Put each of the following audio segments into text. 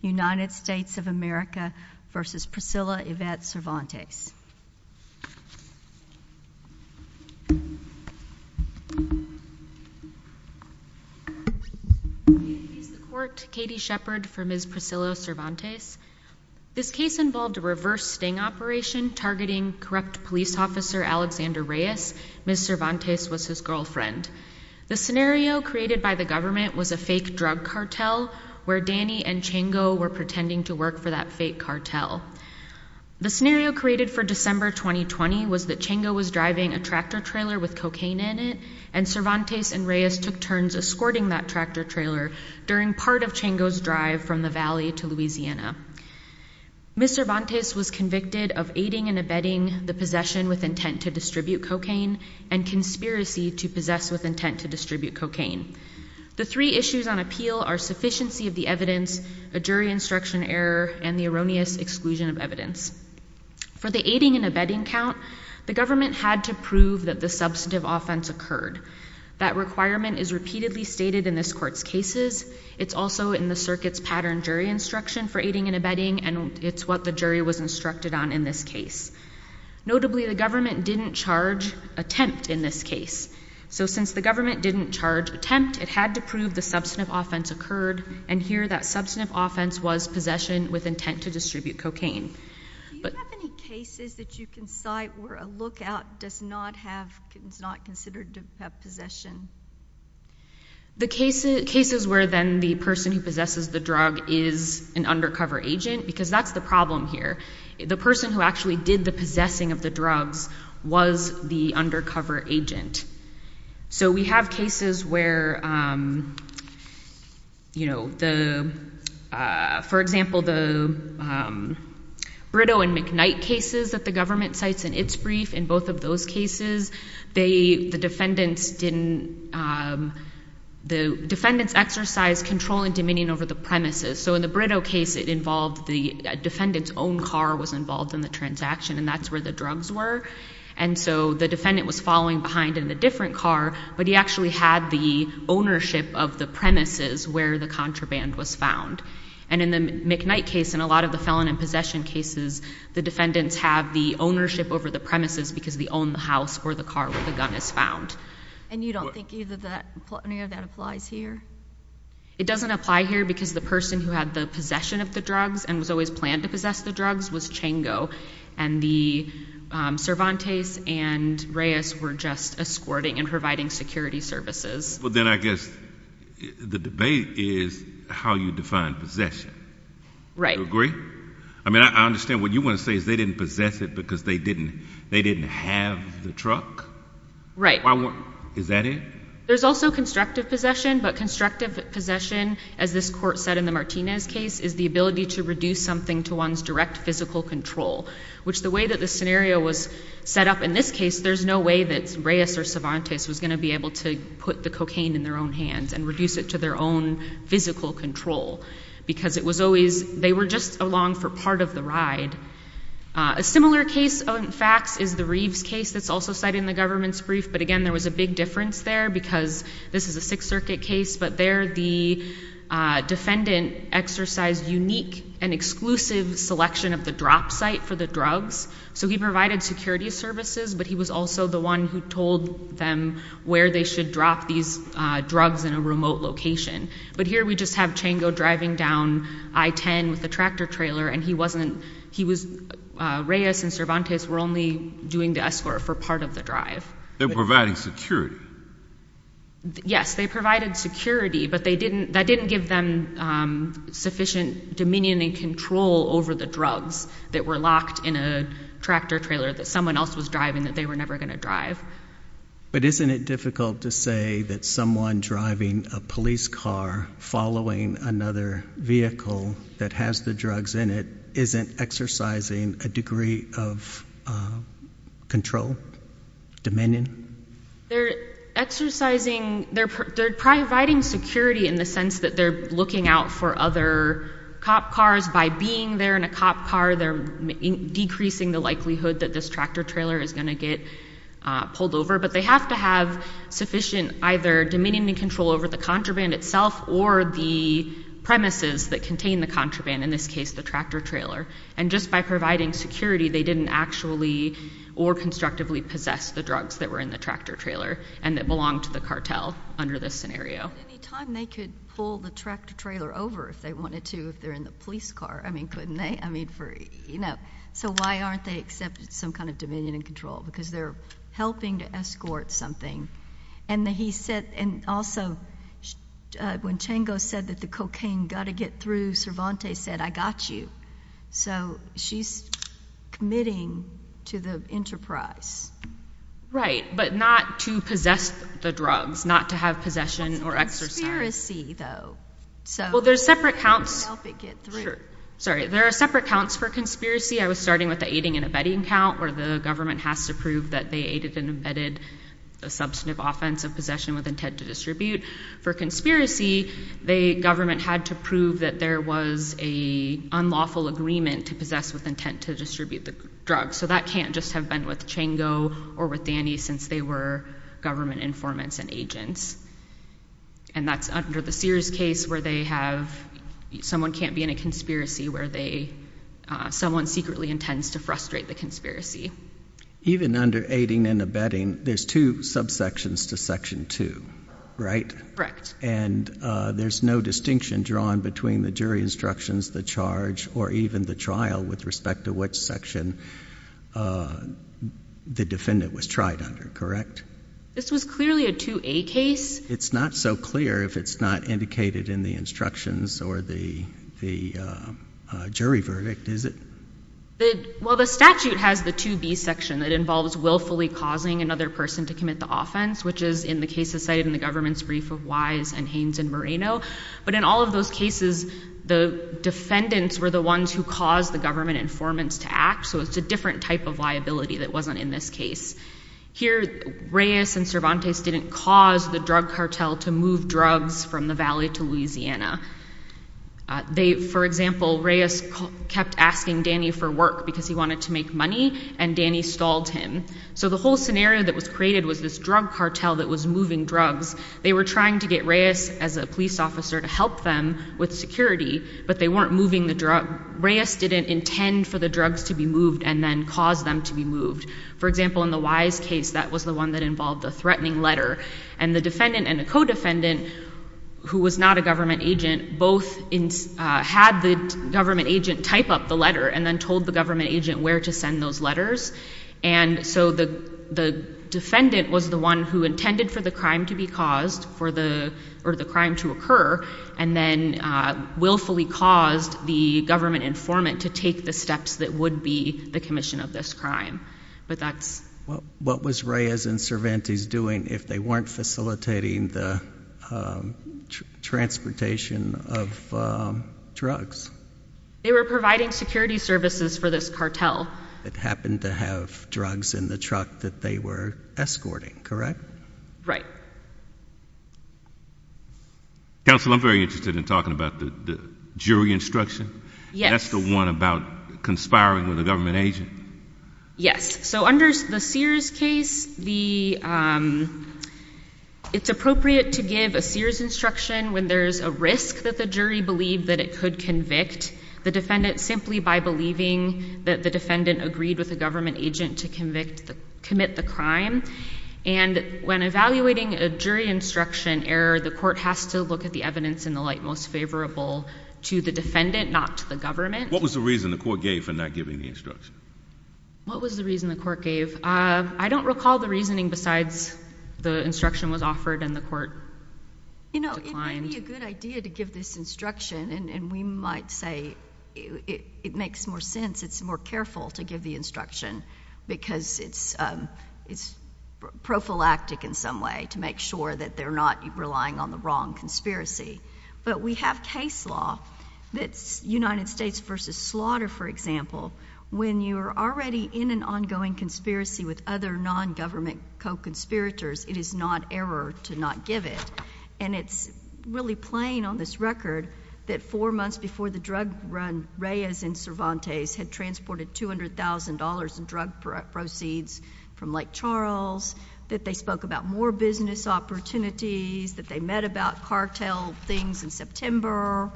United States of America v. Priscila Yvette Cervantes. Katie Shepard for Ms. Priscila Cervantes. Alexander Reyes, Ms. Cervantes was his girlfriend. Danny and Chango were pretending to work for that fake cartel. The scenario created for December 2020 was that Chango was driving a tractor trailer with cocaine in it and Cervantes and Reyes took turns escorting that tractor trailer during part of Chango's drive from the Valley to Louisiana. Ms. Cervantes was convicted of aiding and abetting the possession with intent to distribute cocaine and conspiracy to possess with intent to distribute cocaine. The three issues on appeal are sufficiency of the evidence, a jury instruction error, and the erroneous exclusion of evidence. For the aiding and abetting count, the government had to prove that the substantive offense occurred. That requirement is repeatedly stated in this court's cases. It's also in the circuit's pattern jury instruction for aiding and abetting and it's what the jury was instructed on in this case. Notably, the government didn't charge attempt in this case. So since the government didn't charge attempt, it had to prove the substantive offense occurred and here that substantive offense was possession with intent to distribute cocaine. Do you have any cases that you can cite where a lookout is not considered to have possession? The cases where then the person who possesses the drug is an undercover agent because that's the problem here. The person who actually did the possessing of the drugs was the undercover agent. So we have cases where, for example, the Brito and McKnight cases that the government cites in its brief. In both of those cases, the defendants exercised control and dominion over the premises. So in the Brito case, it involved the defendant's own car was involved in the transaction and that's where the drugs were. And so the defendant was following behind in a different car, but he actually had the ownership of the premises where the contraband was found. And in the McKnight case and a lot of the felon and possession cases, the defendants have the ownership over the premises because they own the house or the car where the gun is found. And you don't think either of that applies here? It doesn't apply here because the person who had the possession of the drugs and was always planned to possess the drugs was Chango. And the Cervantes and Reyes were just escorting and providing security services. But then I guess the debate is how you define possession. Do you agree? I mean, I understand what you want to say is they didn't possess it because they didn't have the truck? Right. Is that it? There's also constructive possession, but constructive possession, as this court said in the Martinez case, is the ability to reduce something to one's direct physical control, which the way that the scenario was set up in this case, there's no way that Reyes or Cervantes was going to be able to put the cocaine in their own hands and reduce it to their own physical control because it was always, they were just along for part of the ride. A similar case, in fact, is the Reeves case that's also cited in the government's brief. But again, there was a big difference there because this is a Sixth Circuit case, but there the defendant exercised unique and exclusive selection of the drop site for the drugs. So he provided security services, but he was also the one who told them where they should drop these drugs in a remote location. But here we just have Chango driving down I-10 with a tractor trailer and he wasn't, he was, Reyes and Cervantes were only doing the escort for part of the drive. They were providing security. Yes, they provided security, but they didn't, that didn't give them sufficient dominion and control over the drugs that were locked in a tractor trailer that someone else was driving that they were never going to drive. But isn't it difficult to say that someone driving a police car following another vehicle that has the drugs in it isn't exercising a degree of control, dominion? They're exercising, they're providing security in the sense that they're looking out for other cop cars. By being there in a cop car, they're decreasing the likelihood that this tractor trailer is going to get pulled over. But they have to have sufficient either dominion and control over the contraband itself or the premises that contain the contraband, in this case the tractor trailer. And just by providing security, they didn't actually or constructively possess the drugs that were in the tractor trailer and that belonged to the cartel under this scenario. But any time they could pull the tractor trailer over if they wanted to, if they're in the police car, I mean, couldn't they? I mean, for, you know, so why aren't they accepting some kind of dominion and control? Because they're helping to escort something. And he said, and also when Chango said that the cocaine got to get through, Cervantes said, I got you. So she's committing to the enterprise. Right, but not to possess the drugs, not to have possession or exercise. It's a conspiracy, though. Well, there's separate counts. Sure. Sorry, there are separate counts for conspiracy. I was starting with the aiding and abetting count where the government has to prove that they aided and abetted a substantive offense of possession with intent to distribute. For conspiracy, the government had to prove that there was an unlawful agreement to possess with intent to distribute the drugs. So that can't just have been with Chango or with Danny since they were government informants and agents. And that's under the Sears case where they have, someone can't be in a conspiracy where they, someone secretly intends to frustrate the conspiracy. Even under aiding and abetting, there's two subsections to Section 2, right? Correct. And there's no distinction drawn between the jury instructions, the charge, or even the trial with respect to which section the defendant was tried under, correct? This was clearly a 2A case. It's not so clear if it's not indicated in the instructions or the jury verdict, is it? Well, the statute has the 2B section that involves willfully causing another person to commit the offense, which is in the cases cited in the government's brief of Wise and Haynes and Moreno. But in all of those cases, the defendants were the ones who caused the government informants to act. So it's a different type of liability that wasn't in this case. Here, Reyes and Cervantes didn't cause the drug cartel to move drugs from the Valley to Louisiana. They, for example, Reyes kept asking Danny for work because he wanted to make money, and Danny stalled him. So the whole scenario that was created was this drug cartel that was moving drugs. They were trying to get Reyes, as a police officer, to help them with security, but they weren't moving the drug. Reyes didn't intend for the drugs to be moved and then cause them to be moved. For example, in the Wise case, that was the one that involved the threatening letter. And the defendant and the co-defendant, who was not a government agent, both had the government agent type up the letter and then told the government agent where to send those letters. And so the defendant was the one who intended for the crime to be caused, or the crime to occur, and then willfully caused the government informant to take the steps that would be the commission of this crime. What was Reyes and Cervantes doing if they weren't facilitating the transportation of drugs? They were providing security services for this cartel. That happened to have drugs in the truck that they were escorting, correct? Right. Counsel, I'm very interested in talking about the jury instruction. Yes. That's the one about conspiring with a government agent. Yes. So under the Sears case, it's appropriate to give a Sears instruction when there's a risk that the jury believed that it could convict the defendant simply by believing that the defendant agreed with a government agent to commit the crime. And when evaluating a jury instruction error, the court has to look at the evidence in the light most favorable to the defendant, not to the government. What was the reason the court gave for not giving the instruction? What was the reason the court gave? I don't recall the reasoning besides the instruction was offered and the court declined. You know, it may be a good idea to give this instruction, and we might say it makes more sense, it's more careful to give the instruction, because it's prophylactic in some way to make sure that they're not relying on the wrong conspiracy. But we have case law that's United States v. Slaughter, for example. When you're already in an ongoing conspiracy with other non-government co-conspirators, it is not error to not give it. And it's really plain on this record that four months before the drug run, Reyes and Cervantes had transported $200,000 in drug proceeds from Lake Charles, that they spoke about more business opportunities, that they met about cartel things in September,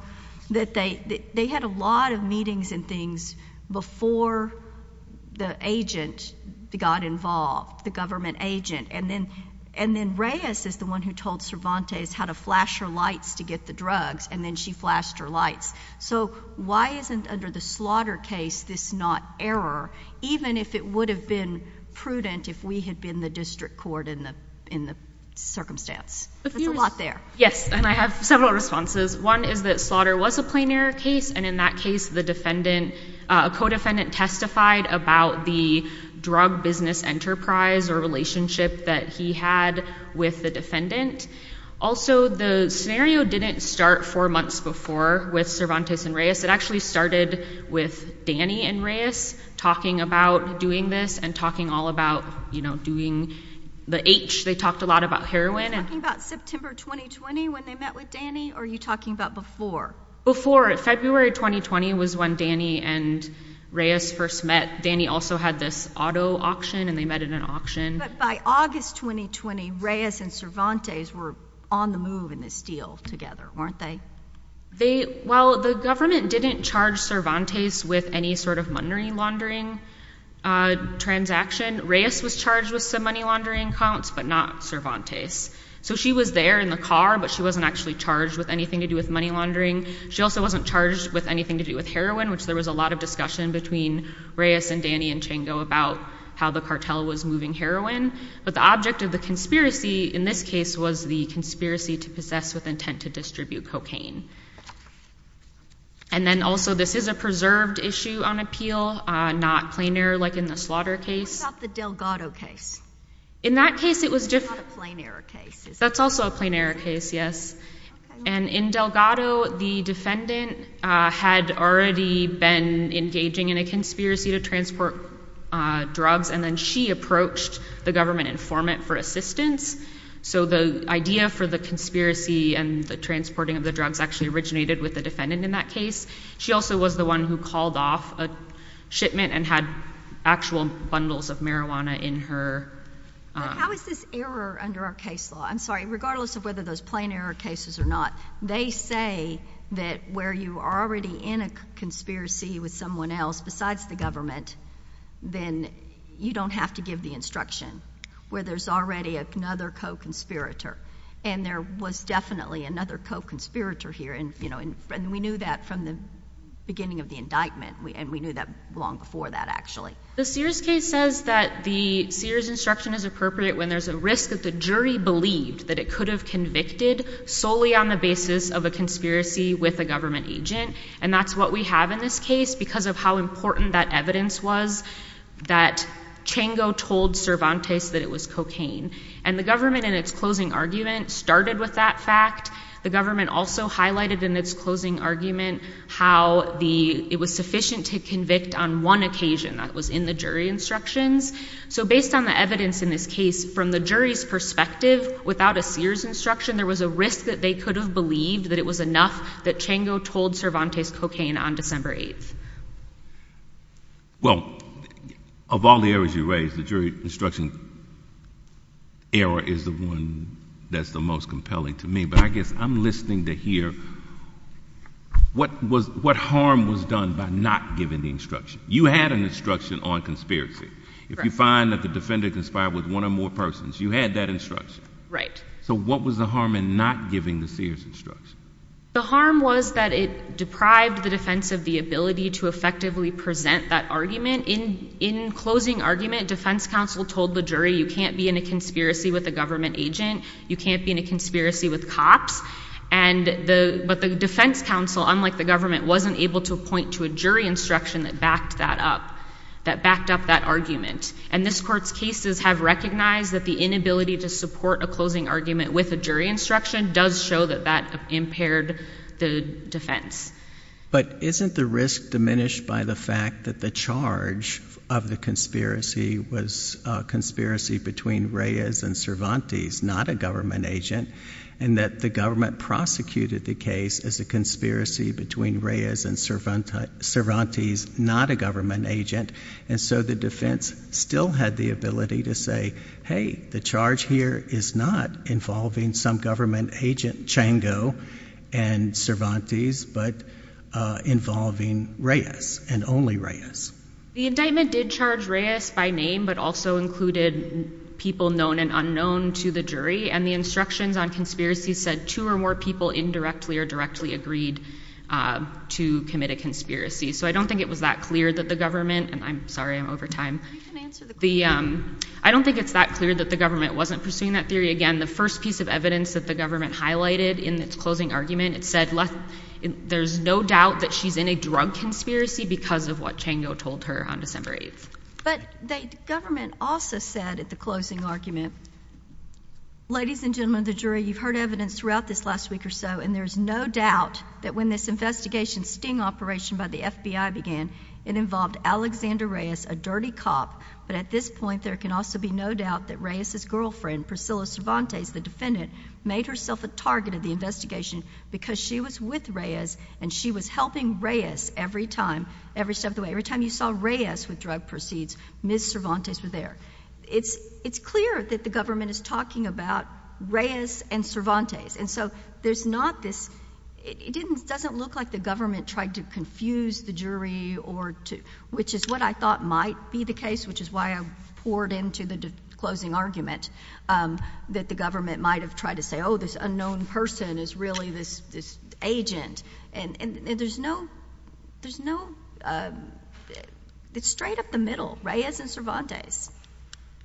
that they had a lot of meetings and things before the agent got involved, the government agent. And then Reyes is the one who told Cervantes how to flash her lights to get the drugs, and then she flashed her lights. So why isn't under the Slaughter case this not error, even if it would have been prudent if we had been the district court in the circumstance? There's a lot there. Yes, and I have several responses. One is that Slaughter was a plain error case, and in that case, the defendant, a co-defendant testified about the drug business enterprise or relationship that he had with the defendant. Also, the scenario didn't start four months before with Cervantes and Reyes. It actually started with Danny and Reyes talking about doing this and talking all about, you know, doing the H. They talked a lot about heroin. Are you talking about September 2020 when they met with Danny, or are you talking about before? Before. February 2020 was when Danny and Reyes first met. Danny also had this auto auction, and they met at an auction. But by August 2020, Reyes and Cervantes were on the move in this deal together, weren't they? Well, the government didn't charge Cervantes with any sort of money laundering transaction. Reyes was charged with some money laundering accounts, but not Cervantes. So she was there in the car, but she wasn't actually charged with anything to do with money laundering. She also wasn't charged with anything to do with heroin, which there was a lot of discussion between Reyes and Danny and Chango about how the cartel was moving heroin. But the object of the conspiracy in this case was the conspiracy to possess with intent to distribute cocaine. And then also, this is a preserved issue on appeal, not plain error like in the slaughter case. What about the Delgado case? In that case, it was different. That's not a plain error case, is it? That's also a plain error case, yes. And in Delgado, the defendant had already been engaging in a conspiracy to transport drugs, and then she approached the government informant for assistance. So the idea for the conspiracy and the transporting of the drugs actually originated with the defendant in that case. She also was the one who called off a shipment and had actual bundles of marijuana in her— But how is this error under our case law? I'm sorry, regardless of whether those plain error cases or not, they say that where you are already in a conspiracy with someone else besides the government, then you don't have to give the instruction, where there's already another co-conspirator. And there was definitely another co-conspirator here, and we knew that from the beginning of the indictment. And we knew that long before that, actually. The Sears case says that the Sears instruction is appropriate when there's a risk that the jury believed that it could have convicted solely on the basis of a conspiracy with a government agent. And that's what we have in this case because of how important that evidence was that Chango told Cervantes that it was cocaine. And the government, in its closing argument, started with that fact. The government also highlighted in its closing argument how it was sufficient to convict on one occasion. That was in the jury instructions. So based on the evidence in this case, from the jury's perspective, without a Sears instruction, there was a risk that they could have believed that it was enough that Chango told Cervantes cocaine on December 8th. Well, of all the errors you raised, the jury instruction error is the one that's the most compelling to me. But I guess I'm listening to hear what harm was done by not giving the instruction. You had an instruction on conspiracy. If you find that the defendant conspired with one or more persons, you had that instruction. Right. So what was the harm in not giving the Sears instruction? The harm was that it deprived the defense of the ability to effectively present that argument. In closing argument, defense counsel told the jury you can't be in a conspiracy with a government agent. You can't be in a conspiracy with cops. But the defense counsel, unlike the government, wasn't able to point to a jury instruction that backed that up, that backed up that argument. And this Court's cases have recognized that the inability to support a closing argument with a jury instruction does show that that impaired the defense. But isn't the risk diminished by the fact that the charge of the conspiracy was a conspiracy between Reyes and Cervantes, not a government agent, and that the government prosecuted the case as a conspiracy between Reyes and Cervantes, not a government agent, and so the defense still had the ability to say, hey, the charge here is not involving some government agent, Chango and Cervantes, but involving Reyes and only Reyes. The indictment did charge Reyes by name, but also included people known and unknown to the jury. And the instructions on conspiracy said two or more people indirectly or directly agreed to commit a conspiracy. So I don't think it was that clear that the government—and I'm sorry, I'm over time. I don't think it's that clear that the government wasn't pursuing that theory. Again, the first piece of evidence that the government highlighted in its closing argument, it said there's no doubt that she's in a drug conspiracy because of what Chango told her on December 8th. But the government also said at the closing argument, ladies and gentlemen of the jury, you've heard evidence throughout this last week or so, and there's no doubt that when this investigation sting operation by the FBI began, it involved Alexander Reyes, a dirty cop. But at this point, there can also be no doubt that Reyes' girlfriend, Priscilla Cervantes, the defendant, made herself a target of the investigation because she was with Reyes and she was helping Reyes every step of the way. Every time you saw Reyes with drug proceeds, Ms. Cervantes was there. It's clear that the government is talking about Reyes and Cervantes. And so there's not this—it doesn't look like the government tried to confuse the jury or to— which is what I thought might be the case, which is why I poured into the closing argument that the government might have tried to say, oh, this unknown person is really this agent. And there's no—there's no—it's straight up the middle, Reyes and Cervantes.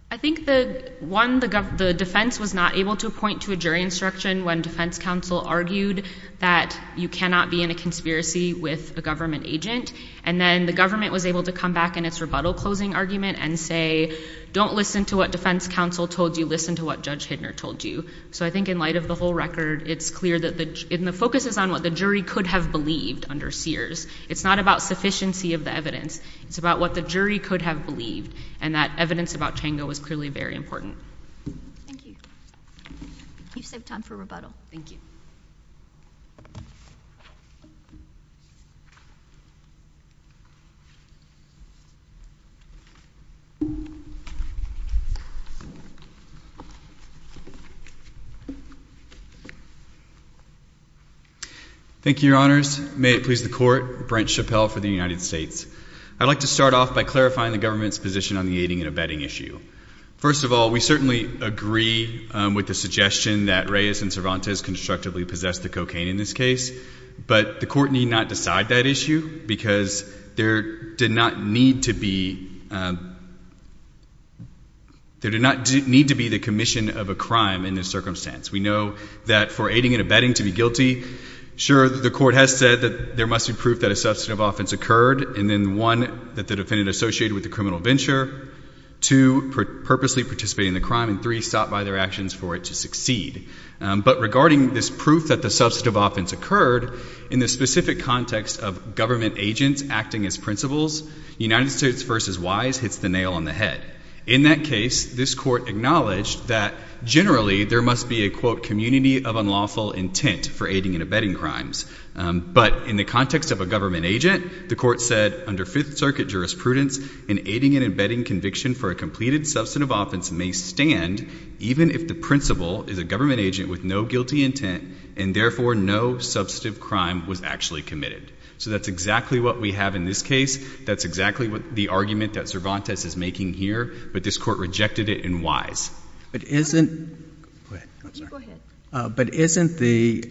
I think the—one, the defense was not able to point to a jury instruction when defense counsel argued that you cannot be in a conspiracy with a government agent. And then the government was able to come back in its rebuttal closing argument and say, don't listen to what defense counsel told you, listen to what Judge Hidner told you. So I think in light of the whole record, it's clear that the— and the focus is on what the jury could have believed under Sears. It's not about sufficiency of the evidence. It's about what the jury could have believed. And that evidence about Tango was clearly very important. Thank you. You've saved time for rebuttal. Thank you. Thank you, Your Honors. May it please the Court, Brent Chappell for the United States. I'd like to start off by clarifying the government's position on the aiding and abetting issue. First of all, we certainly agree with the suggestion that Reyes and Cervantes constructively possessed the cocaine in this case. But the Court need not decide that issue because there did not need to be— there did not need to be the commission of a crime in this circumstance. We know that for aiding and abetting to be guilty, sure, the Court has said that there must be proof that a substantive offense occurred. And then one, that the defendant associated with the criminal venture. Two, purposely participating in the crime. And three, stopped by their actions for it to succeed. But regarding this proof that the substantive offense occurred, in the specific context of government agents acting as principals, United States v. Wise hits the nail on the head. In that case, this Court acknowledged that generally there must be a quote, community of unlawful intent for aiding and abetting crimes. But in the context of a government agent, the Court said under Fifth Circuit jurisprudence, an aiding and abetting conviction for a completed substantive offense may stand even if the principal is a government agent with no guilty intent, and therefore no substantive crime was actually committed. So that's exactly what we have in this case. That's exactly the argument that Cervantes is making here. But this Court rejected it in Wise. But isn't— Go ahead. Go ahead. But isn't the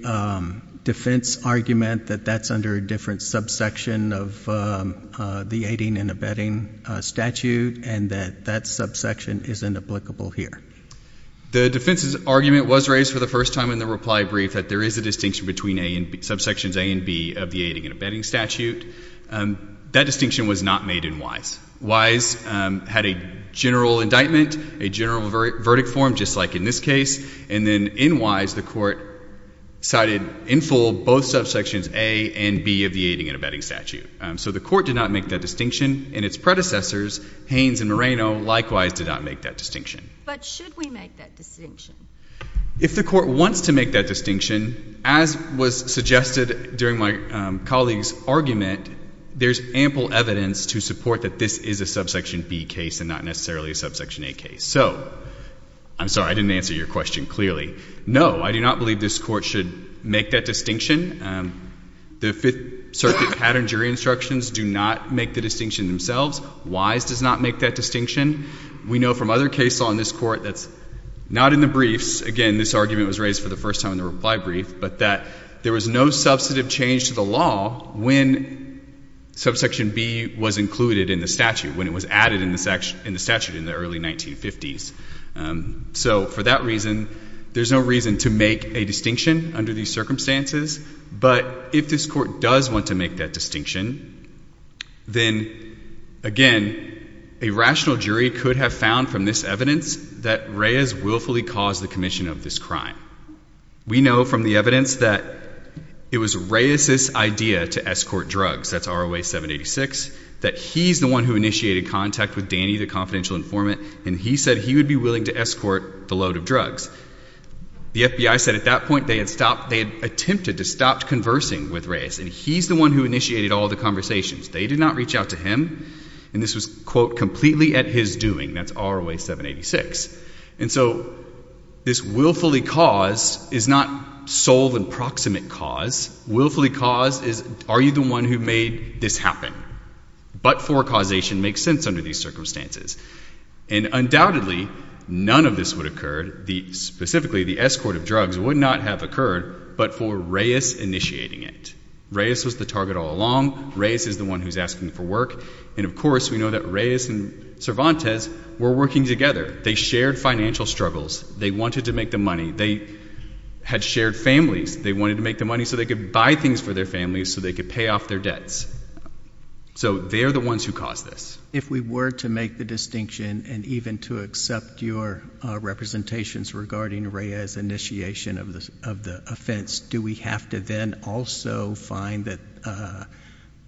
defense argument that that's under a different subsection of the aiding and abetting statute, and that that subsection isn't applicable here? The defense's argument was raised for the first time in the reply brief that there is a distinction between subsections A and B of the aiding and abetting statute. That distinction was not made in Wise. Wise had a general indictment, a general verdict form, just like in this case. And then in Wise, the Court cited in full both subsections A and B of the aiding and abetting statute. So the Court did not make that distinction, and its predecessors, Haines and Moreno, likewise did not make that distinction. But should we make that distinction? If the Court wants to make that distinction, as was suggested during my colleague's argument, there's ample evidence to support that this is a subsection B case and not necessarily a subsection A case. So, I'm sorry, I didn't answer your question clearly. No, I do not believe this Court should make that distinction. The Fifth Circuit pattern jury instructions do not make the distinction themselves. Wise does not make that distinction. We know from other cases on this Court that's not in the briefs, again, this argument was raised for the first time in the reply brief, but that there was no substantive change to the law when subsection B was included in the statute, when it was added in the statute in the early 1950s. So, for that reason, there's no reason to make a distinction under these circumstances. But if this Court does want to make that distinction, then, again, a rational jury could have found from this evidence that Reyes willfully caused the commission of this crime. We know from the evidence that it was Reyes's idea to escort drugs, that's ROA 786, that he's the one who initiated contact with Danny, the confidential informant, and he said he would be willing to escort the load of drugs. The FBI said at that point they had stopped, they had attempted to stop conversing with Reyes, and he's the one who initiated all the conversations. They did not reach out to him, and this was, quote, completely at his doing, that's ROA 786. And so, this willfully caused is not sole and proximate cause. Willfully caused is, are you the one who made this happen? But for causation makes sense under these circumstances. And undoubtedly, none of this would occur, specifically, the escort of drugs would not have occurred, but for Reyes initiating it. Reyes was the target all along. Reyes is the one who's asking for work. And, of course, we know that Reyes and Cervantes were working together. They shared financial struggles. They wanted to make the money. They had shared families. They wanted to make the money so they could buy things for their families, so they could pay off their debts. So, they're the ones who caused this. If we were to make the distinction, and even to accept your representations regarding Reyes' initiation of the offense, do we have to then also find that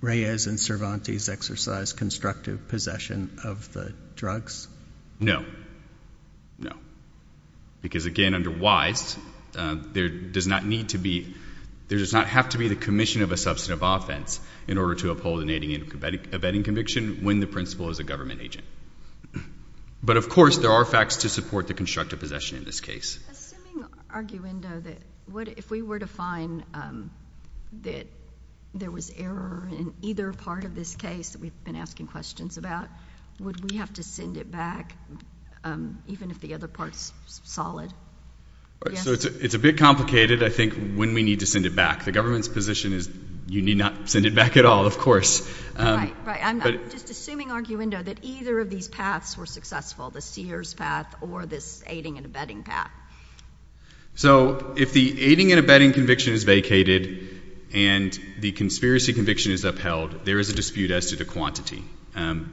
Reyes and Cervantes exercised constructive possession of the drugs? No. No. Because, again, under WISE, there does not need to be, there does not have to be the commission of a substantive offense in order to uphold an aiding and abetting conviction when the principal is a government agent. But, of course, there are facts to support the constructive possession in this case. Assuming, arguendo, that if we were to find that there was error in either part of this case that we've been asking questions about, would we have to send it back even if the other part's solid? So, it's a bit complicated, I think, when we need to send it back. The government's position is you need not send it back at all, of course. Right. Right. I'm just assuming, arguendo, that either of these paths were successful, the Sears path or this aiding and abetting path. So, if the aiding and abetting conviction is vacated and the conspiracy conviction is upheld, there is a dispute as to the quantity.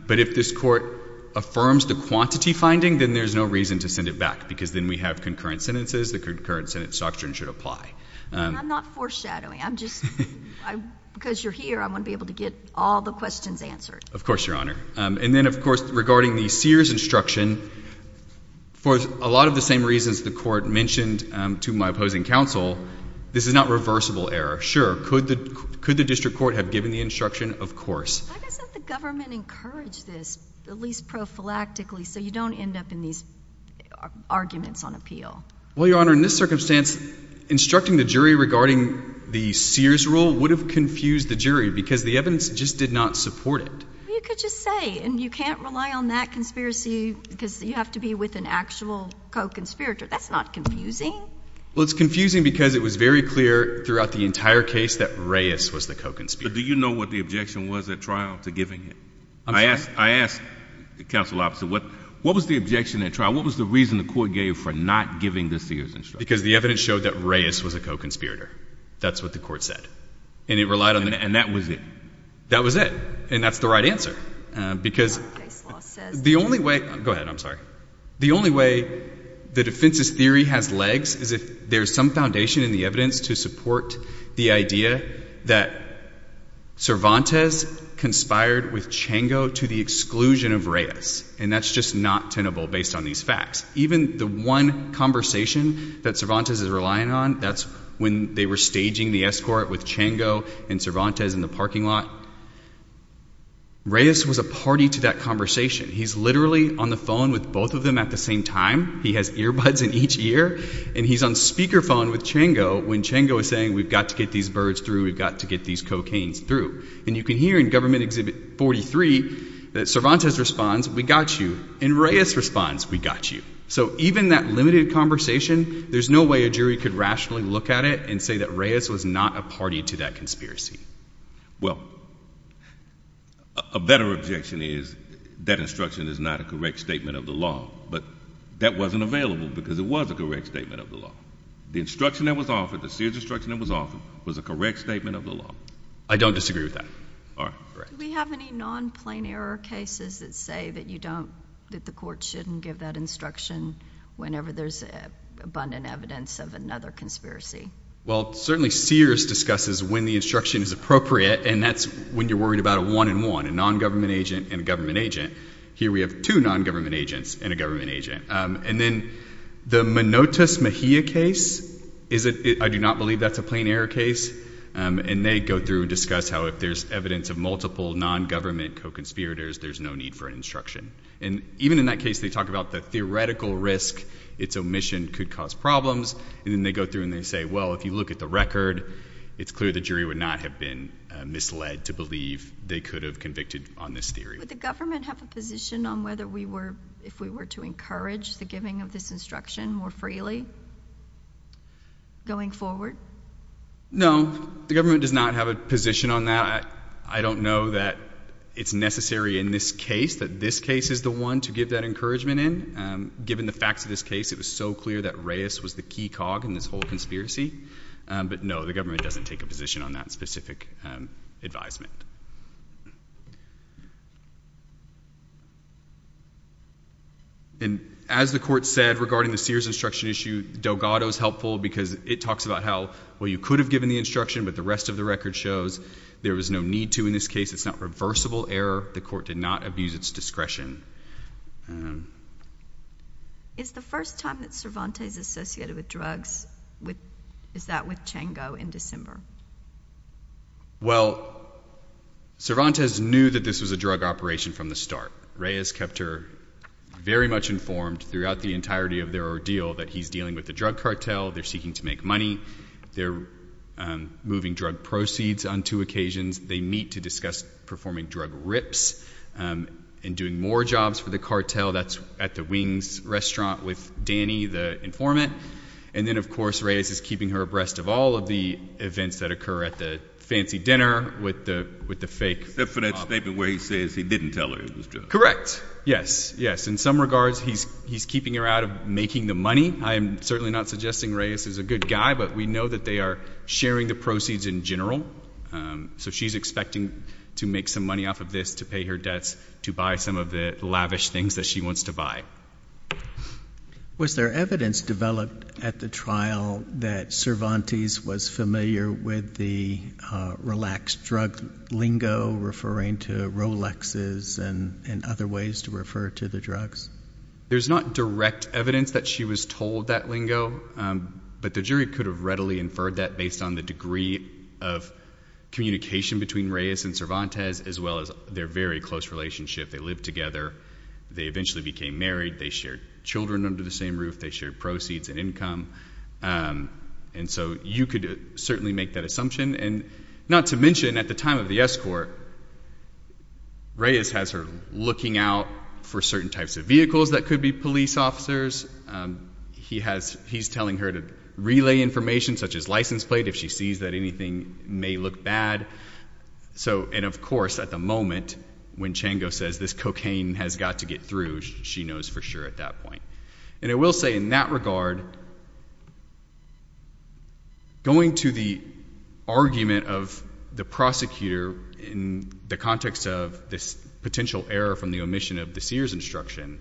But if this Court affirms the quantity finding, then there's no reason to send it back because then we have concurrent sentences, the concurrent sentence doctrine should apply. I'm not foreshadowing. I'm just, because you're here, I want to be able to get all the questions answered. Of course, Your Honor. And then, of course, regarding the Sears instruction, for a lot of the same reasons the Court mentioned to my opposing counsel, this is not reversible error. Sure, could the District Court have given the instruction? Of course. Why doesn't the government encourage this, at least prophylactically, so you don't end up in these arguments on appeal? Well, Your Honor, in this circumstance, instructing the jury regarding the Sears rule would have confused the jury because the evidence just did not support it. Well, you could just say, and you can't rely on that conspiracy because you have to be with an actual co-conspirator. That's not confusing. Well, it's confusing because it was very clear throughout the entire case that Reyes was the co-conspirator. But do you know what the objection was at trial to giving it? I'm sorry? I asked the counsel opposite, what was the objection at trial? What was the reason the Court gave for not giving the Sears instruction? Because the evidence showed that Reyes was a co-conspirator. That's what the Court said. And it relied on the evidence. And that was it. That was it. And that's the right answer. Because the only way... Go ahead. I'm sorry. The only way the defense's theory has legs is if there's some foundation in the evidence to support the idea that Cervantes conspired with Chango to the exclusion of Reyes. And that's just not tenable based on these facts. Even the one conversation that Cervantes is relying on, that's when they were staging the escort with Chango and Cervantes in the parking lot. Reyes was a party to that conversation. He's literally on the phone with both of them at the same time. He has earbuds in each ear. And he's on speakerphone with Chango when Chango is saying, we've got to get these birds through. We've got to get these cocaines through. And you can hear in Government Exhibit 43 that Cervantes responds, we got you. And Reyes responds, we got you. So even that limited conversation, there's no way a jury could rationally look at it and say that Reyes was not a party to that conspiracy. Well, a better objection is that instruction is not a correct statement of the law. But that wasn't available because it was a correct statement of the law. The instruction that was offered, the serious instruction that was offered, was a correct statement of the law. I don't disagree with that. Do we have any non-plain error cases that say that you don't, that the court shouldn't give that instruction whenever there's abundant evidence of another conspiracy? Well, certainly Sears discusses when the instruction is appropriate. And that's when you're worried about a one and one, a non-government agent and a government agent. Here we have two non-government agents and a government agent. And then the Minotus Mejia case, I do not believe that's a plain error case. And they go through and discuss how if there's evidence of multiple non-government co-conspirators, there's no need for an instruction. And even in that case, they talk about the theoretical risk its omission could cause problems. And then they go through and they say, well, if you look at the record, it's clear the jury would not have been misled to believe they could have convicted on this theory. Would the government have a position on whether we were, if we were to encourage the giving of this instruction more freely going forward? No. The government does not have a position on that. I don't know that it's necessary in this case that this case is the one to give that encouragement in. Given the facts of this case, it was so clear that Reyes was the key cog in this whole conspiracy. But no, the government doesn't take a position on that specific advisement. And as the court said regarding the Sears instruction issue, Delgado is helpful because it talks about how, well, you could have given the instruction, but the rest of the record shows there's no need to in this case. It's not reversible error. The court did not abuse its discretion. Is the first time that Cervantes is associated with drugs, is that with Chango in December? Well, Cervantes knew that this was a drug operation from the start. Reyes kept her very much informed throughout the entirety of their ordeal that he's dealing with a drug cartel, they're seeking to make money, they're moving drug proceeds on two occasions, they meet to discuss performing drug rips and doing more jobs for the cartel. That's at the Wings restaurant with Danny, the informant. And then, of course, Reyes is keeping her abreast of all of the events that occur at the fancy dinner with the fake... Except for that statement where he says he didn't tell her it was drugs. Correct. Yes, yes. In some regards, he's keeping her out of making the money. I am certainly not suggesting Reyes is a good guy, but we know that they are sharing the proceeds in general. So she's expecting to make some money off of this to pay her debts to buy some of the lavish things that she wants to buy. Was there evidence developed at the trial that Cervantes was familiar with the relaxed drug lingo referring to Rolexes and other ways to refer to the drugs? There's not direct evidence that she was told that lingo, but the jury could have readily inferred that based on the degree of communication between Reyes and Cervantes as well as their very close relationship. They lived together. They eventually became married. They shared children under the same roof. They shared proceeds and income. And so you could certainly make that assumption. And not to mention, at the time of the escort, Reyes has her looking out for certain types of vehicles that could be police officers. He's telling her to relay information such as license plate if she sees that anything may look bad. And of course, at the moment, when Chango says this cocaine has got to get through, she knows for sure at that point. And I will say in that regard, going to the argument of the prosecutor in the context of this potential error from the omission of the Sears instruction,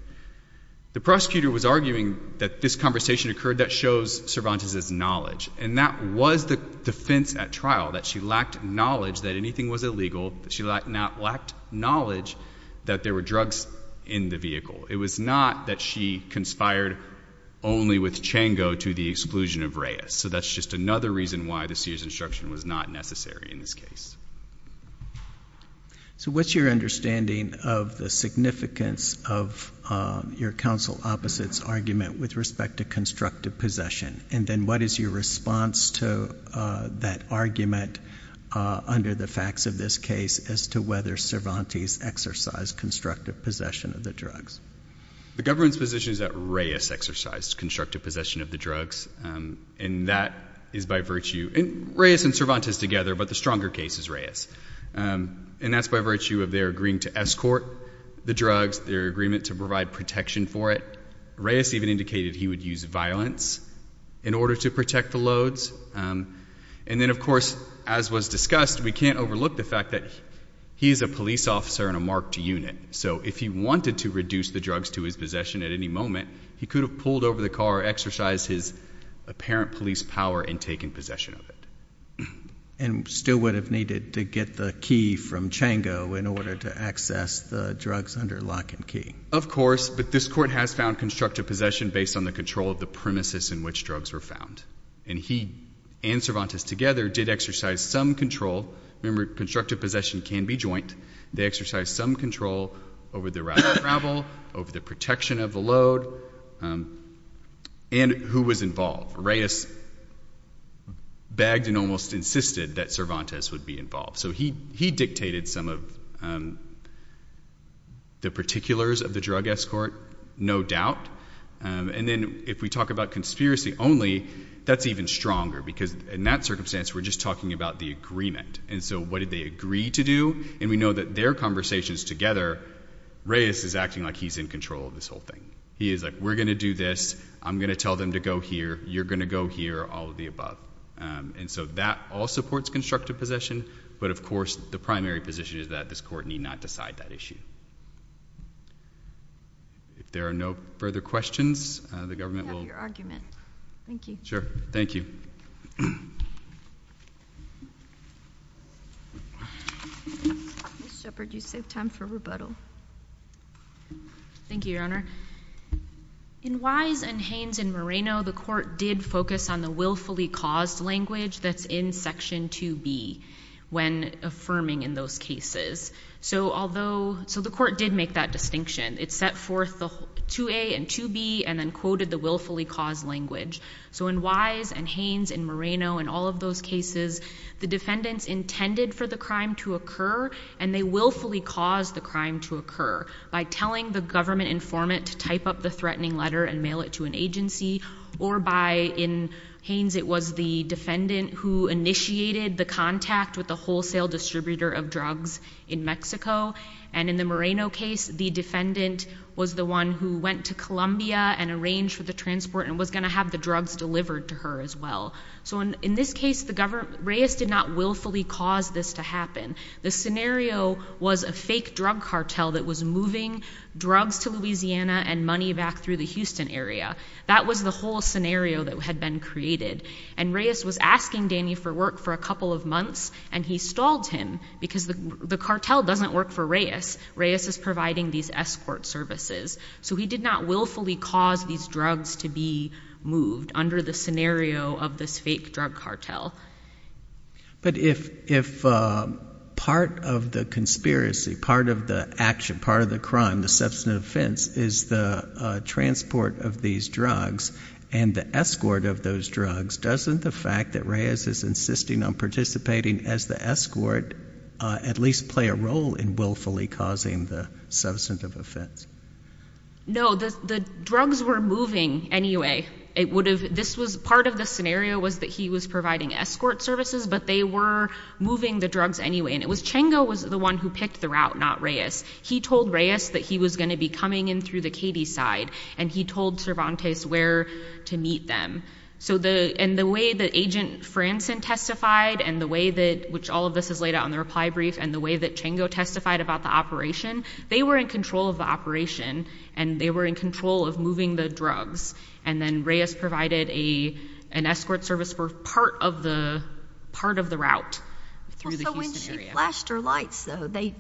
the prosecutor was arguing that this conversation occurred that shows Cervantes' knowledge. And that was the defense at trial, that she lacked knowledge that anything was illegal. She lacked knowledge that there were drugs in the vehicle. It was not that she conspired only with Chango to the exclusion of Reyes. So that's just another reason why the Sears instruction was not necessary in this case. So what's your understanding of the significance of your counsel opposite's argument with respect to constructive possession? And then what is your response to that argument under the facts of this case as to whether Cervantes exercised constructive possession of the drugs? The government's position is that Reyes exercised constructive possession of the drugs. And that is by virtue... Reyes and Cervantes together, but the stronger case is Reyes. And that's by virtue of their agreeing to escort the drugs. Their agreement to provide protection for it. Reyes even indicated he would use violence in order to protect the loads. And then, of course, as was discussed, we can't overlook the fact that he is a police officer in a marked unit. So if he wanted to reduce the drugs to his possession at any moment, he could have pulled over the car or exercised his apparent police power and taken possession of it. And still would have needed to get the key from Chango in order to access the drugs under lock and key. Of course, but this court has found constructive possession based on the control of the premises in which drugs were found. And he and Cervantes together did exercise some control. Remember, constructive possession can be joint. They exercised some control over the route of travel, over the protection of the load, and who was involved. Reyes bagged and almost insisted that Cervantes would be involved. So he dictated some of the particulars of the drug escort, no doubt. And then if we talk about conspiracy only, that's even stronger because in that circumstance we're just talking about the agreement. And so what did they agree to do? And we know that their conversations together, Reyes is acting like he's in control of this whole thing. He is like, we're going to do this. I'm going to tell them to go here. You're going to go here, all of the above. And so that all supports constructive possession. But, of course, the primary position is that this court need not decide that issue. If there are no further questions, the government will... I have your argument. Thank you. Sure. Thank you. Ms. Shepherd, you saved time for rebuttal. Thank you, Your Honor. In Wise and Haines in Moreno, the court did focus on the willfully caused language that's in Section 2B when affirming in those cases. So the court did make that distinction. It set forth the 2A and 2B and then quoted the willfully caused language. So in Wise and Haines in Moreno and all of those cases, the defendants intended for the crime to occur and they willfully caused the crime to occur by telling the government informant to type up the threatening letter and mail it to an agency or by, in Haines, it was the defendant who initiated the contact with the wholesale distributor of drugs in Mexico. And in the Moreno case, the defendant was the one who went to Colombia and arranged for the transport and was going to have the drugs delivered to her as well. So in this case, Reyes did not willfully cause this to happen. The scenario was a fake drug cartel that was moving drugs to Louisiana and money back through the Houston area. That was the whole scenario that had been created. And Reyes was asking Danny for work for a couple of months and he stalled him because the cartel doesn't work for Reyes. Reyes is providing these escort services. So he did not willfully cause these drugs to be moved under the scenario of this fake drug cartel. But if part of the conspiracy, part of the action, part of the crime, the substantive offense is the transport of these drugs and the escort of those drugs, doesn't the fact that Reyes is insisting on participating as the escort at least play a role in willfully causing the substantive offense? No, the drugs were moving anyway. It would have, this was, part of the scenario was that he was providing escort services, but they were moving the drugs anyway. And it was Chengo was the one who picked the route, not Reyes. He told Reyes that he was going to be coming through the Katy side. And he told Cervantes where to meet them. And the way that Agent Franson testified and the way that, which all of this is laid out on the reply brief, and the way that Chengo testified about the operation, they were in control of the operation and they were in control of moving the drugs. And then Reyes provided an escort service for part of the route through the Houston area. So when she flashed her lights, though, they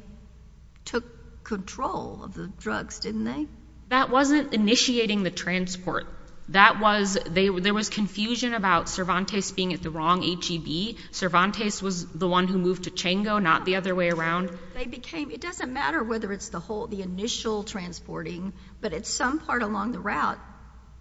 took control of the drugs, didn't they? That wasn't initiating the transport. That was, there was confusion about Cervantes being at the wrong HEB. Cervantes was the one who moved to Chengo, not the other way around. It doesn't matter whether it's the whole, the initial transporting, but at some part along the route,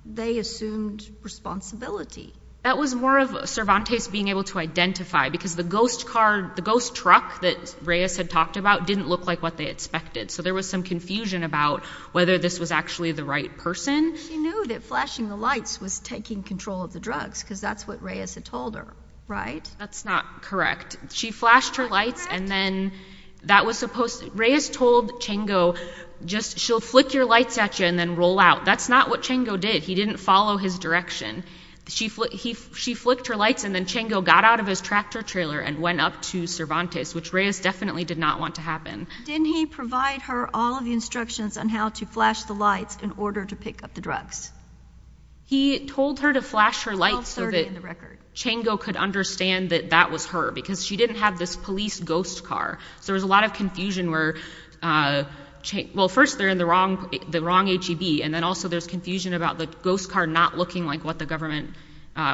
they assumed responsibility. That was more of Cervantes being able to identify because the ghost car, the ghost truck that Reyes had talked about, didn't look like what they expected. So there was some confusion about whether this was actually the right person. She knew that flashing the lights was taking control of the drugs because that's what Reyes had told her, right? That's not correct. She flashed her lights and then that was supposed, Reyes told Chengo, just, she'll flick your lights at you and then roll out. That's not what Chengo did. He didn't follow his direction. She flicked her lights and then Chengo got out of his tractor trailer and went up to Cervantes, which Reyes definitely did not want to happen. Didn't he provide her all of the instructions on how to flash the lights in order to pick up the drugs? He told her to flash her lights so that Chengo could understand that that was her because she didn't have this police ghost car. So there was a lot of confusion where, well, first they're in the wrong HEB and then also there's confusion about the ghost car not looking like what the government,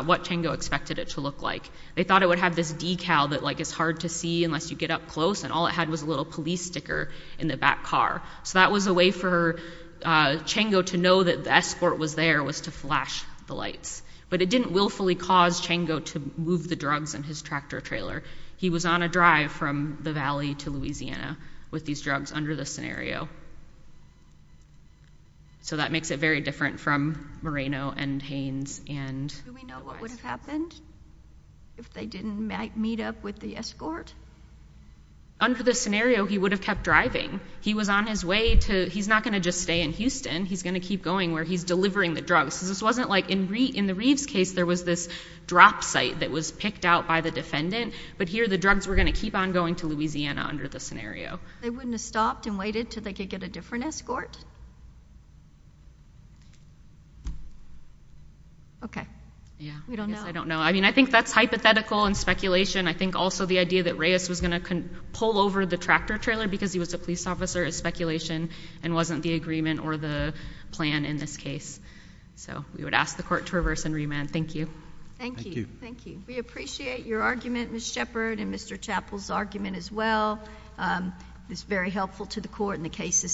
what Chengo expected it to look like. They thought it would have this decal that is hard to see unless you get up close and all it had was a little police sticker in the back car. So that was a way for Chengo to know that the escort was there was to flash the lights. But it didn't willfully cause Chengo to move the drugs in his tractor trailer. He was on a drive from the valley to Louisiana with these drugs under the scenario. So that makes it very different from Moreno and Haynes. Do we know what would have happened if they didn't meet up with the escort? Under the scenario, he would have kept driving. He was on his way to, he's not going to just stay in Houston. He's going to keep going where he's delivering the drugs. This wasn't like in the Reeves case there was this drop site that was picked out by the defendant. But here the drugs were going to keep on going to Louisiana under the scenario. They wouldn't have stopped and waited until they could get a different escort? Okay. We don't know. Yeah, I guess I don't know. I mean, I think that's hypothetical and speculation. I think also the idea that Reyes was going to pull over the tractor trailer because he was a police officer is speculation and wasn't the agreement or the plan in this case. So we would ask the court to reverse and remand. Thank you. Thank you. We appreciate your argument, Ms. Shepard, It's very helpful to the court and the case is submitted.